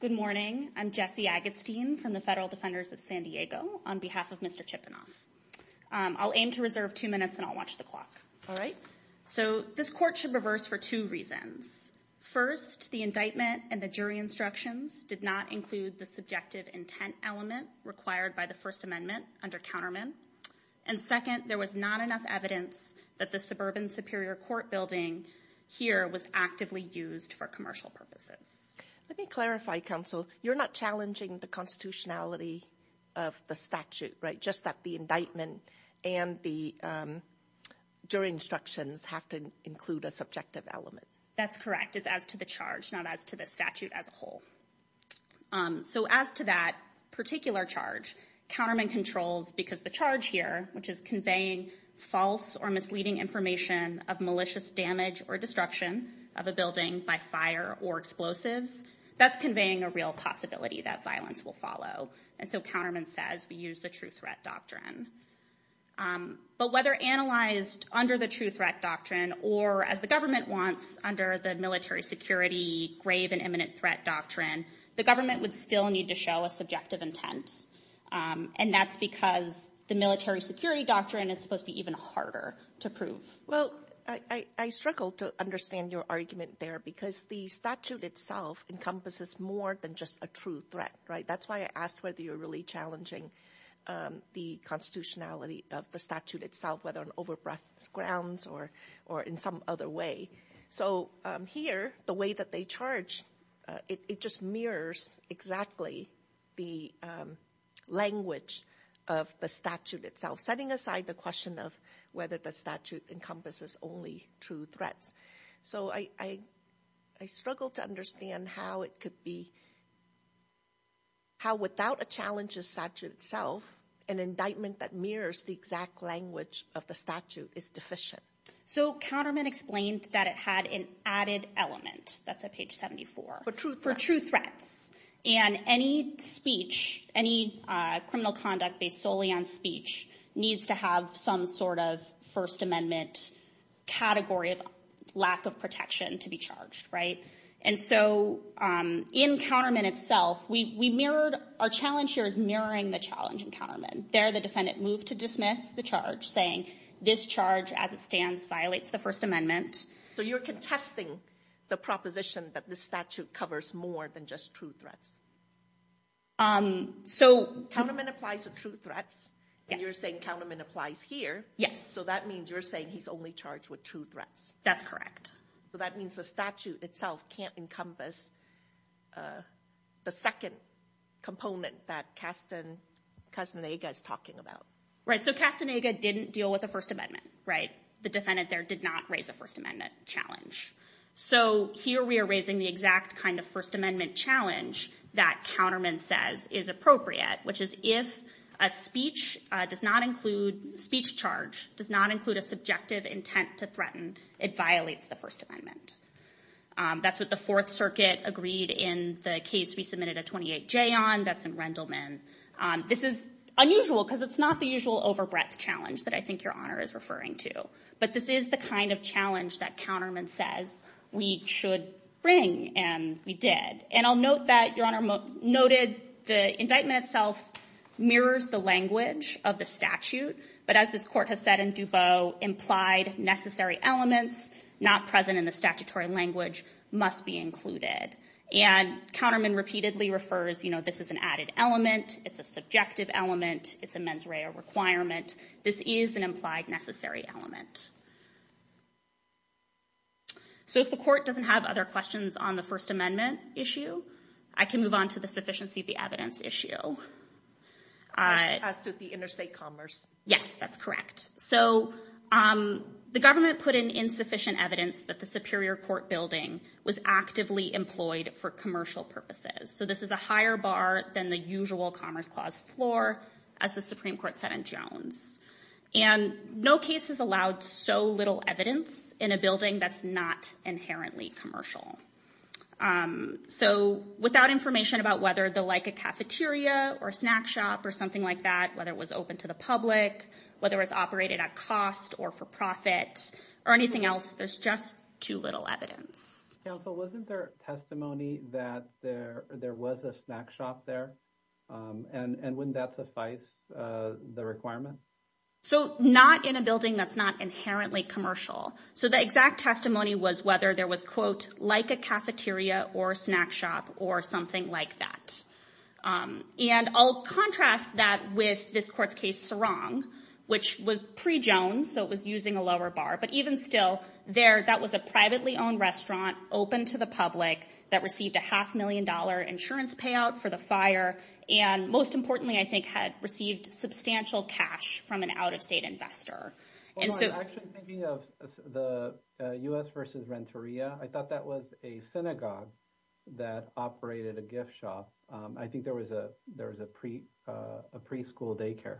Good morning, I'm Jesse Agatstein from the Federal Defenders of San Diego on behalf of Mr. Chipunov. I'll aim to reserve two minutes and I'll watch the clock, all right? So this court should reverse for two reasons. First, the indictment and the jury instructions did not include the subjective intent element required by the First Amendment under Counterman. And second, there was not enough evidence that the Suburban Superior Court building here was actively used for commercial purposes. Let me clarify, counsel, you're not challenging the constitutionality of the statute, right? Just that the indictment and the jury instructions have to include a subjective element. That's correct. It's as to the charge, not as to the statute as a whole. So as to that particular charge, Counterman controls because the charge here, which is conveying false or misleading information of malicious damage or destruction of a building by fire or explosives, that's conveying a real possibility that violence will follow. And so Counterman says we use the true threat doctrine. But whether analyzed under the true threat doctrine or as the government wants under the military security grave and imminent threat doctrine, the government would still need to show a subjective intent. And that's because the military security doctrine is supposed to be even harder to prove. Well, I struggle to understand your argument there because the statute itself encompasses more than just a true threat, right? That's why I asked whether you're really challenging the constitutionality of the statute or in some other way. So here, the way that they charge, it just mirrors exactly the language of the statute itself, setting aside the question of whether the statute encompasses only true threats. So I struggle to understand how it could be, how without a challenge of statute itself, an indictment that mirrors the exact language of the statute is deficient. So Counterman explained that it had an added element, that's at page 74, for true threats. And any speech, any criminal conduct based solely on speech needs to have some sort of First Amendment category of lack of protection to be charged, right? And so in Counterman itself, we mirrored, our challenge here is mirroring the challenge in Counterman. There, the defendant moved to dismiss the charge, saying this charge, as it stands, violates the First Amendment. So you're contesting the proposition that the statute covers more than just true threats? Counterman applies to true threats, and you're saying Counterman applies here. Yes. So that means you're saying he's only charged with true threats. That's correct. So that means the statute itself can't encompass the second component that Castaneda is talking about. Right, so Castaneda didn't deal with the First Amendment, right? The defendant there did not raise a First Amendment challenge. So here we are raising the exact kind of First Amendment challenge that Counterman says is appropriate, which is if a speech does not include, speech charge does not include a subjective intent to threaten, it violates the First Amendment. That's what the Fourth Circuit agreed in the case we submitted a 28-J on. That's in Rendleman. This is unusual, because it's not the usual over-breadth challenge that I think Your Honor is referring to. But this is the kind of challenge that Counterman says we should bring, and we did. And I'll note that Your Honor noted the indictment itself mirrors the language of the statute. But as this Court has said in Dubot, implied necessary elements not present in the statutory language must be included. And Counterman repeatedly refers, you know, this is an added element, it's a subjective element, it's a mens rea requirement. This is an implied necessary element. So if the Court doesn't have other questions on the First Amendment issue, I can move on to the sufficiency of the evidence issue. As did the interstate commerce. Yes, that's correct. So the government put in insufficient evidence that the Superior Court building was actively employed for commercial purposes. So this is a higher bar than the usual Commerce Clause floor, as the Supreme Court said in Jones. And no case has allowed so little evidence in a building that's not inherently commercial. So without information about whether the Leica cafeteria or snack shop or something like that, whether it was open to the public, whether it was operated at cost or for profit or anything else, there's just too little evidence. Counsel, wasn't there testimony that there was a snack shop there? And wouldn't that suffice the requirement? So not in a building that's not inherently commercial. So the exact testimony was whether there was, quote, Leica cafeteria or snack shop or something like that. And I'll contrast that with this Court's case, Sorong, which was pre-Jones. So it was using a lower bar. But even still, there, that was a privately owned restaurant open to the public that received a half million dollar insurance payout for the fire. And most importantly, I think, had received substantial cash from an out-of-state investor. Actually, thinking of the U.S. versus Renteria, I thought that was a synagogue that operated a gift shop. I think there was a preschool daycare.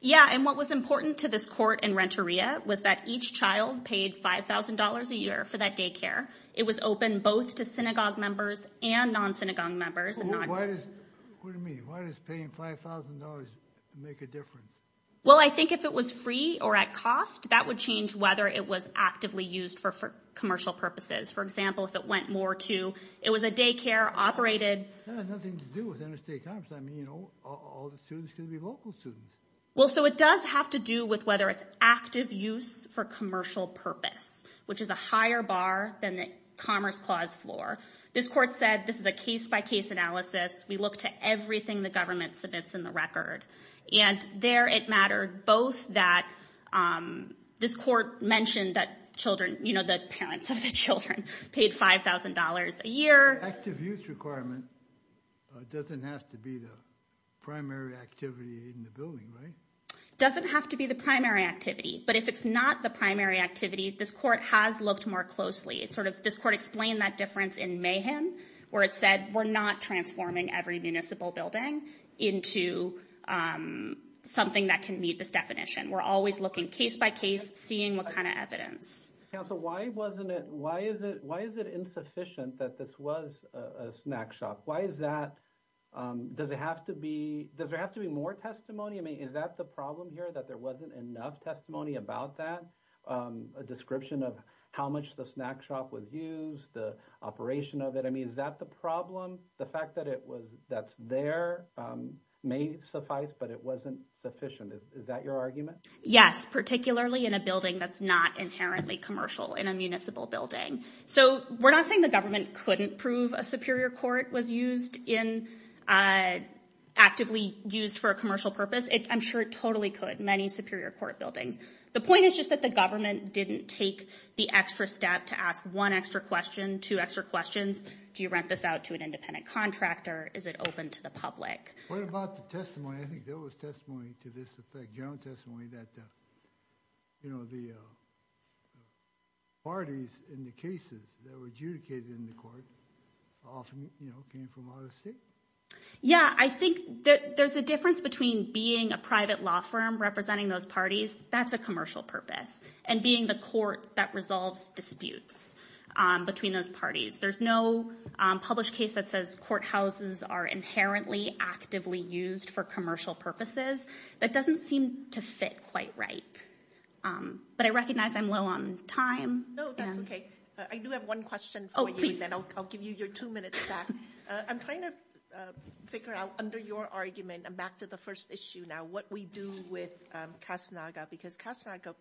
Yeah. And what was important to this court in Renteria was that each child paid $5,000 a year for that daycare. It was open both to synagogue members and non-synagogue members. What do you mean? Why does paying $5,000 make a difference? Well, I think if it was free or at cost, that would change whether it was actively used for commercial purposes. For example, if it went more to, it was a daycare operated. That has nothing to do with interstate commerce. I mean, all the students could be local students. Well, so it does have to do with whether it's active use for commercial purpose, which is a higher bar than the Commerce Clause floor. This Court said this is a case-by-case analysis. We look to everything the government submits in the record. And there it mattered both that this Court mentioned that children, you know, the parents of the children paid $5,000 a year. Active use requirement doesn't have to be the primary activity in the building, right? Doesn't have to be the primary activity. But if it's not the primary activity, this Court has looked more closely. It's sort of, this Court explained that difference in Mayhem, where it said we're not transforming every municipal building into something that can meet this definition. We're always looking case-by-case, seeing what kind of evidence. Counsel, why wasn't it, why is it, why is it insufficient that this was a snack shop? Why is that, does it have to be, does there have to be more testimony? I mean, is that the problem here, that there wasn't enough testimony about that? A description of how much the snack shop was used, the operation of it. I mean, is that the problem? The fact that it was, that's there may suffice, but it wasn't sufficient. Is that your argument? Yes, particularly in a building that's not inherently commercial in a municipal building. So we're not saying the government couldn't prove a Superior Court was used in, actively used for a commercial purpose. I'm sure it totally could, many Superior Court buildings. The point is just that the government didn't take the extra step to ask one extra question, two extra questions. Do you rent this out to an independent contractor? Is it open to the public? What about the testimony? I think there was testimony to this effect, general testimony, that you know, the parties in the cases that were adjudicated in the court often, you know, came from out of state. Yeah, I think that there's a difference between being a private law firm representing those parties, that's a commercial purpose, and being the court that resolves disputes between those parties. There's no published case that says courthouses are inherently actively used for commercial purposes. That doesn't seem to fit quite right. But I recognize I'm low on time. No, that's okay. I do have one question. I'll give you your two minutes back. I'm trying to figure out, under your argument, and back to the first issue now, what we do with Kastanaga, because Kastanaga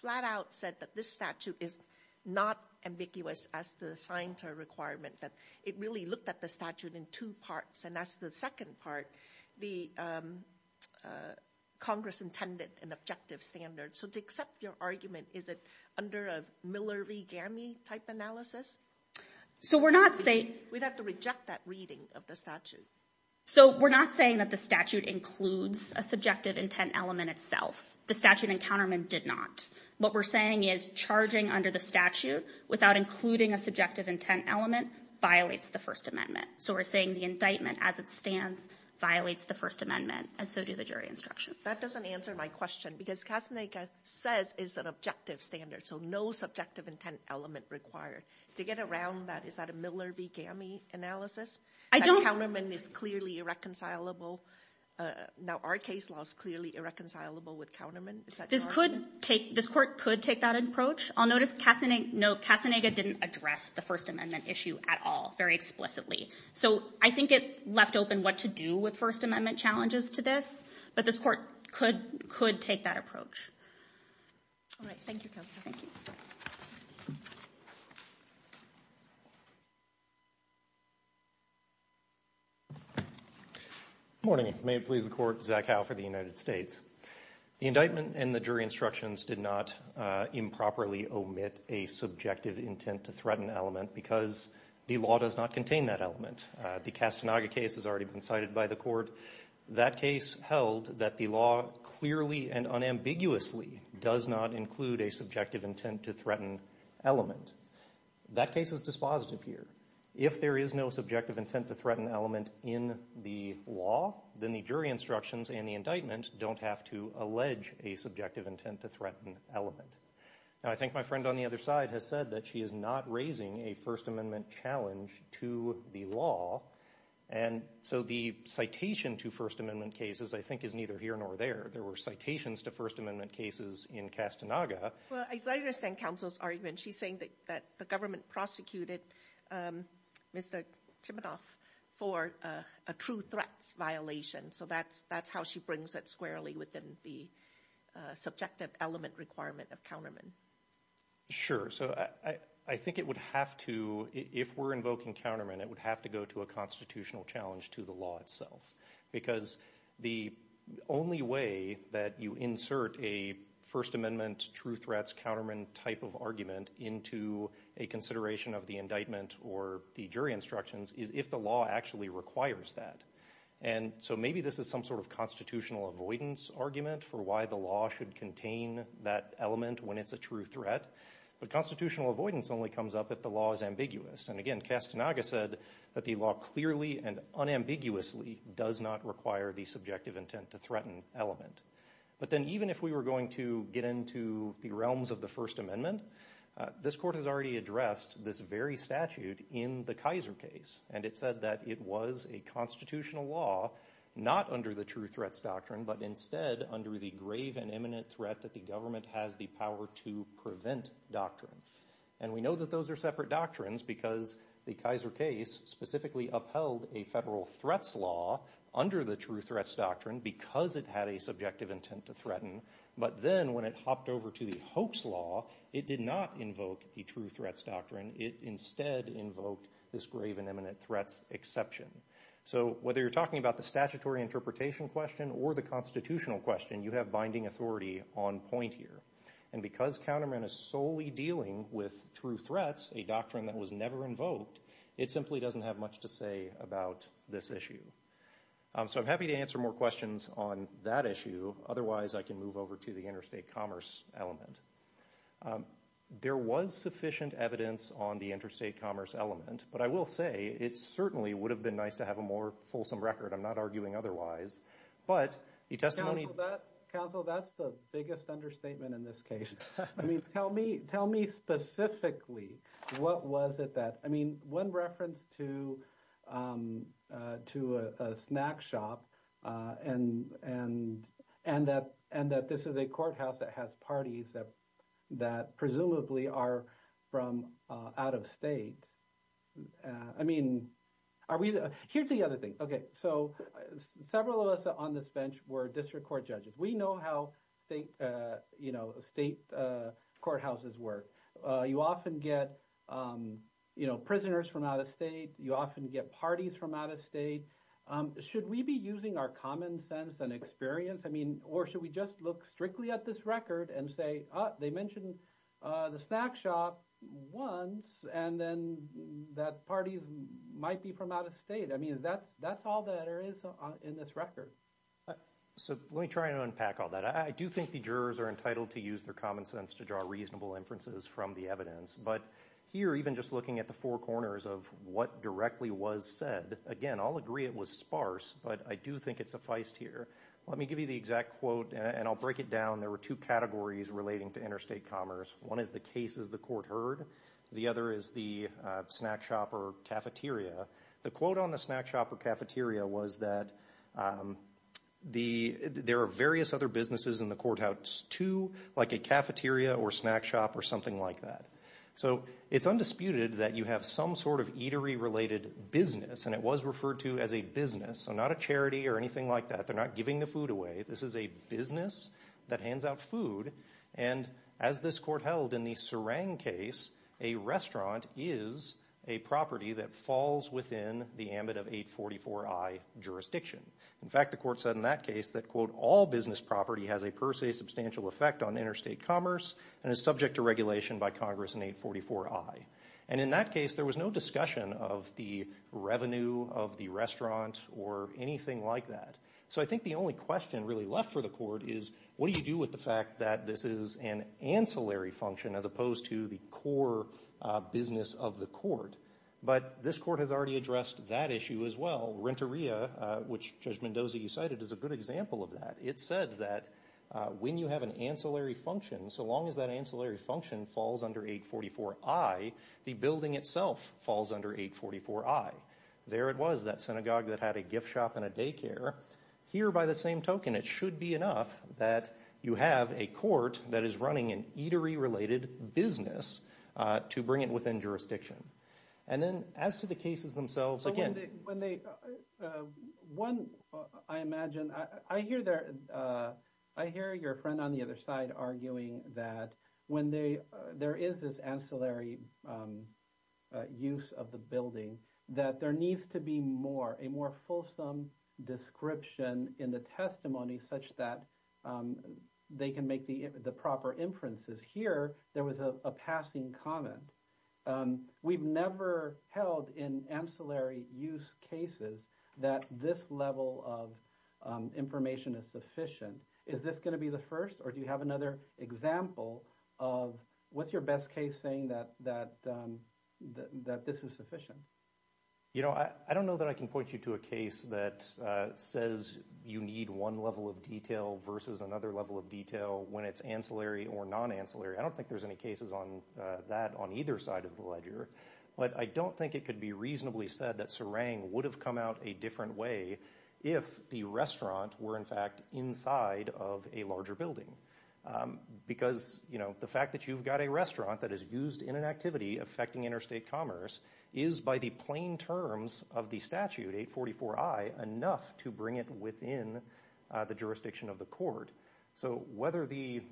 flat out said that this statute is not ambiguous as the signatory requirement, that it really looked at the statute in two parts, and that's the second part, the Congress-intended and objective standard. So to accept your argument, is it under a Miller v. Fermi type analysis? We'd have to reject that reading of the statute. So we're not saying that the statute includes a subjective intent element itself. The statute and countermeasure did not. What we're saying is charging under the statute without including a subjective intent element violates the First Amendment. So we're saying the indictment as it stands violates the First Amendment, and so do the jury instructions. That doesn't answer my question, because Kastanaga says it's an objective standard, so no subjective intent element required. To get around that, is that a Miller v. Fermi analysis? That countermeasure is clearly irreconcilable. Now, our case law is clearly irreconcilable with countermeasure. Is that your argument? This Court could take that approach. I'll notice Kastanaga didn't address the First Amendment issue at all, very explicitly. So I think it left open what to do with First Amendment challenges to this, but this Court could take that approach. All right. Thank you, Counsel. Thank you. Good morning. May it please the Court, Zach Howe for the United States. The indictment and the jury instructions did not improperly omit a subjective intent to threaten element, because the law does not contain that element. The Kastanaga case has already been cited by the does not include a subjective intent to threaten element. That case is dispositive here. If there is no subjective intent to threaten element in the law, then the jury instructions and the indictment don't have to allege a subjective intent to threaten element. Now, I think my friend on the other side has said that she is not raising a First Amendment challenge to the law, and so the citation to First Amendment cases, I think, is neither here nor there. There were citations to First Amendment cases in Kastanaga. Well, I understand Counsel's argument. She's saying that the government prosecuted Mr. Chibinoff for a true threats violation. So that's how she brings it squarely within the subjective element requirement of countermen. Sure. So I think it would have to, if we're invoking countermen, it would have to go to constitutional challenge to the law itself. Because the only way that you insert a First Amendment true threats countermen type of argument into a consideration of the indictment or the jury instructions is if the law actually requires that. And so maybe this is some sort of constitutional avoidance argument for why the law should contain that element when it's a true threat. But constitutional avoidance only comes up if the law is ambiguous. And again, Kastanaga said that the law clearly and unambiguously does not require the subjective intent to threaten element. But then even if we were going to get into the realms of the First Amendment, this court has already addressed this very statute in the Kaiser case. And it said that it was a constitutional law not under the true threats doctrine, but instead under the grave and imminent threat that the government has the power to prevent doctrine. And we know that those are doctrines because the Kaiser case specifically upheld a federal threats law under the true threats doctrine because it had a subjective intent to threaten. But then when it hopped over to the hoax law, it did not invoke the true threats doctrine. It instead invoked this grave and imminent threats exception. So whether you're talking about the statutory interpretation question or the constitutional question, you have binding authority on point here. And because the counterman is solely dealing with true threats, a doctrine that was never invoked, it simply doesn't have much to say about this issue. So I'm happy to answer more questions on that issue. Otherwise, I can move over to the interstate commerce element. There was sufficient evidence on the interstate commerce element. But I will say it certainly would have been nice to have a more fulsome record. I'm not arguing otherwise. But the testimony that counsel, that's the biggest understatement in this case. I mean, tell me specifically, what was it that, I mean, one reference to a snack shop and that this is a courthouse that has parties that presumably are from out of state. I mean, here's the other thing. Okay. So several of us on this were district court judges. We know how state courthouses work. You often get prisoners from out of state. You often get parties from out of state. Should we be using our common sense and experience? I mean, or should we just look strictly at this record and say, they mentioned the snack shop once and then that party might be from out of state. I mean, that's all that there is in this record. So let me try and unpack all that. I do think the jurors are entitled to use their common sense to draw reasonable inferences from the evidence. But here, even just looking at the four corners of what directly was said, again, I'll agree it was sparse, but I do think it's a feist here. Let me give you the exact quote and I'll break it down. There were two categories relating to interstate commerce. One is the cases the court heard. The other is the snack shop or cafeteria. The quote on the snack shop or cafeteria was that there are various other businesses in the courthouse too, like a cafeteria or snack shop or something like that. So it's undisputed that you have some sort of eatery-related business, and it was referred to as a business. So not a charity or anything like that. They're not giving the food away. This is a business that hands out food. And as this court held in the Sarang case, a restaurant is a property that falls within the ambit of 844I jurisdiction. In fact, the court said in that case that, quote, all business property has a per se substantial effect on interstate commerce and is subject to regulation by Congress in 844I. And in that case, there was no discussion of the revenue of the restaurant or anything like that. So I think the only question really left for the court is, what do you do with the fact that this is an ancillary function as opposed to the core business of the court? But this court has already addressed that issue as well. Renteria, which Judge Mendoza, you cited, is a good example of that. It said that when you have an ancillary function, so long as that ancillary function falls under 844I, the building itself falls under 844I. There it was, that synagogue that had a that is running an eatery-related business, to bring it within jurisdiction. And then as to the cases themselves, again- But when they, when they, one, I imagine, I hear their, I hear your friend on the other side arguing that when they, there is this ancillary use of the building, that there needs to be more, a more fulsome description in the testimony such that they can make the proper inferences. Here, there was a passing comment. We've never held in ancillary use cases that this level of information is sufficient. Is this going to be the first, or do you have another example of, what's your best case saying that this is sufficient? You know, I don't know that I can point you to a case that says you need one level of detail versus another level of detail when it's ancillary or non-ancillary. I don't think there's any cases on that on either side of the ledger, but I don't think it could be reasonably said that Sarang would have come out a different way if the restaurant were, in fact, inside of a larger building. Because, you know, the fact that you've got a restaurant that is used in an activity affecting interstate commerce is, by the plain terms of the statute, 844I, enough to bring it within the jurisdiction of the court. So whether the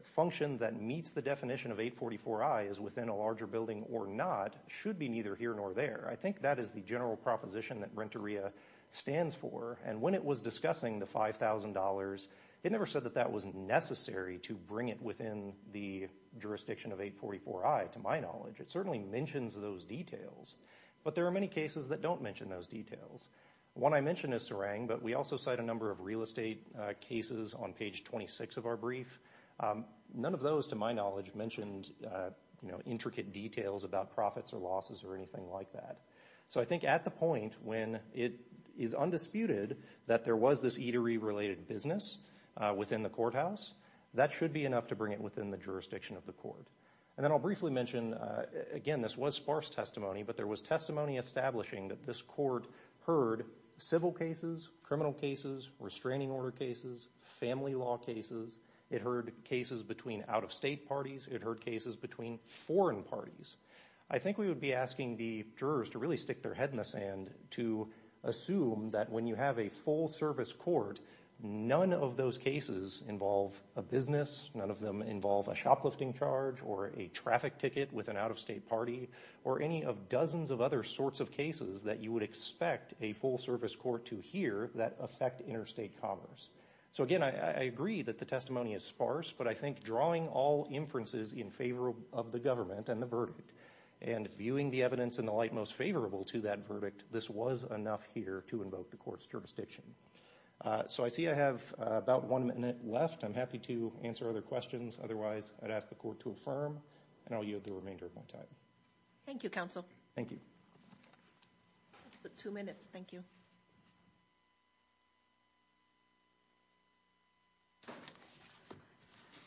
function that meets the definition of 844I is within a larger building or not should be neither here nor there. I think that is the general proposition that Renteria stands for, and when it was discussing the $5,000, it never said that that was necessary to bring it within the jurisdiction of 844I, to my knowledge. It certainly mentions those details, but there are many cases that don't mention those details. One I mentioned is Sarang, but we also cite a number of real estate cases on page 26 of our brief. None of those, to my knowledge, mentioned, you know, intricate details about profits or losses or anything like that. So I think at the point when it is undisputed that there was this eatery-related business within the courthouse, that should be enough to bring it within the jurisdiction of the court. And then I'll briefly mention, again, this was sparse testimony, but there was testimony establishing that this court heard civil cases, criminal cases, restraining order cases, family law cases. It heard cases between out-of-state parties. It heard cases between foreign parties. I think we would be asking the jurors to really stick their head in the sand to assume that when you have a full-service court, none of those cases involve a business, none of them involve a shoplifting charge or a traffic ticket with an out-of-state party or any of dozens of other sorts of cases that you would expect a full-service court to hear that affect interstate commerce. So again, I agree that the testimony is sparse, but I think drawing all inferences in favor of the government and the verdict and viewing the evidence in the light most favorable to that verdict, this was enough here to invoke the court's jurisdiction. So I see I have about one minute left. I'm happy to answer other questions. Otherwise, I'd ask the court to affirm, and I'll yield the remainder of my time. Thank you, counsel. Thank you. Two minutes. Thank you.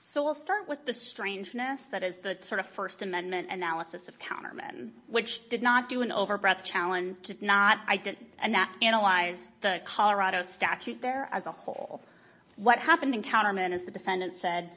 So we'll start with the strangeness that is the sort of First Amendment analysis of Counterman, which did not do an overbreath challenge, did not analyze the Colorado statute there as a whole. What happened in Counterman is the defendant said,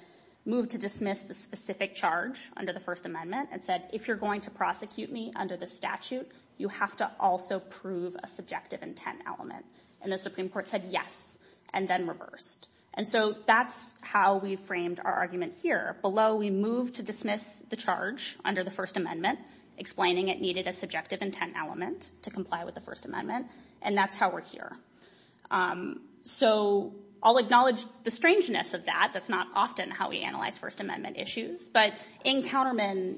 moved to dismiss the specific charge under the First Amendment and said, if you're going to prosecute me under the statute, you have to also prove a subjective intent element. And the Supreme Court said, yes, and then reversed. And so that's how we framed our argument here. Below, we moved to dismiss the charge under the First Amendment, explaining it needed a subjective intent element to comply with the First Amendment. And that's how we're here. So I'll acknowledge the strangeness of that. That's not often how we analyze First Amendment issues. But in Counterman,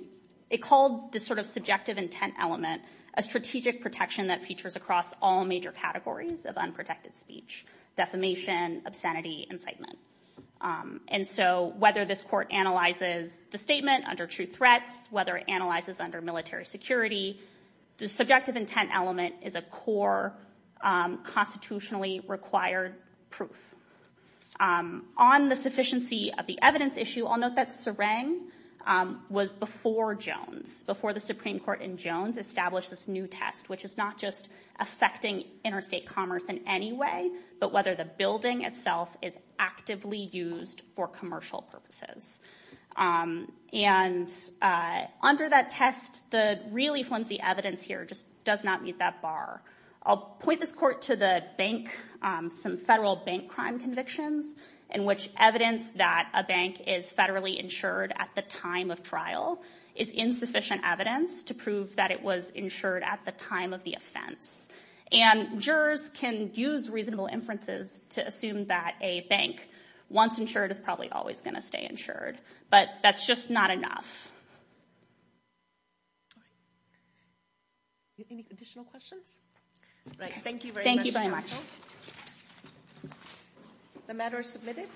it called the sort of subjective intent element a strategic protection that features across all major categories of unprotected speech, defamation, obscenity, incitement. And so whether this court analyzes the statement under true threats, whether it analyzes under military security, the subjective intent element is a core constitutionally required proof. On the sufficiency of the evidence issue, I'll note that Serang was before Jones, before the Supreme Court in Jones established this new test, which is not just affecting interstate commerce in any way, but whether the building itself is actively used for commercial purposes. And under that test, the really flimsy evidence here just does not meet that bar. I'll point this court to the bank, some federal bank crime convictions, in which evidence that a bank is federally insured at the time of trial is insufficient evidence to prove that it was insured at the time of the offense. And jurors can use reasonable inferences to assume that a bank once insured is probably always going to stay insured. But that's just not enough. Any additional questions? Thank you very much. The matter is submitted.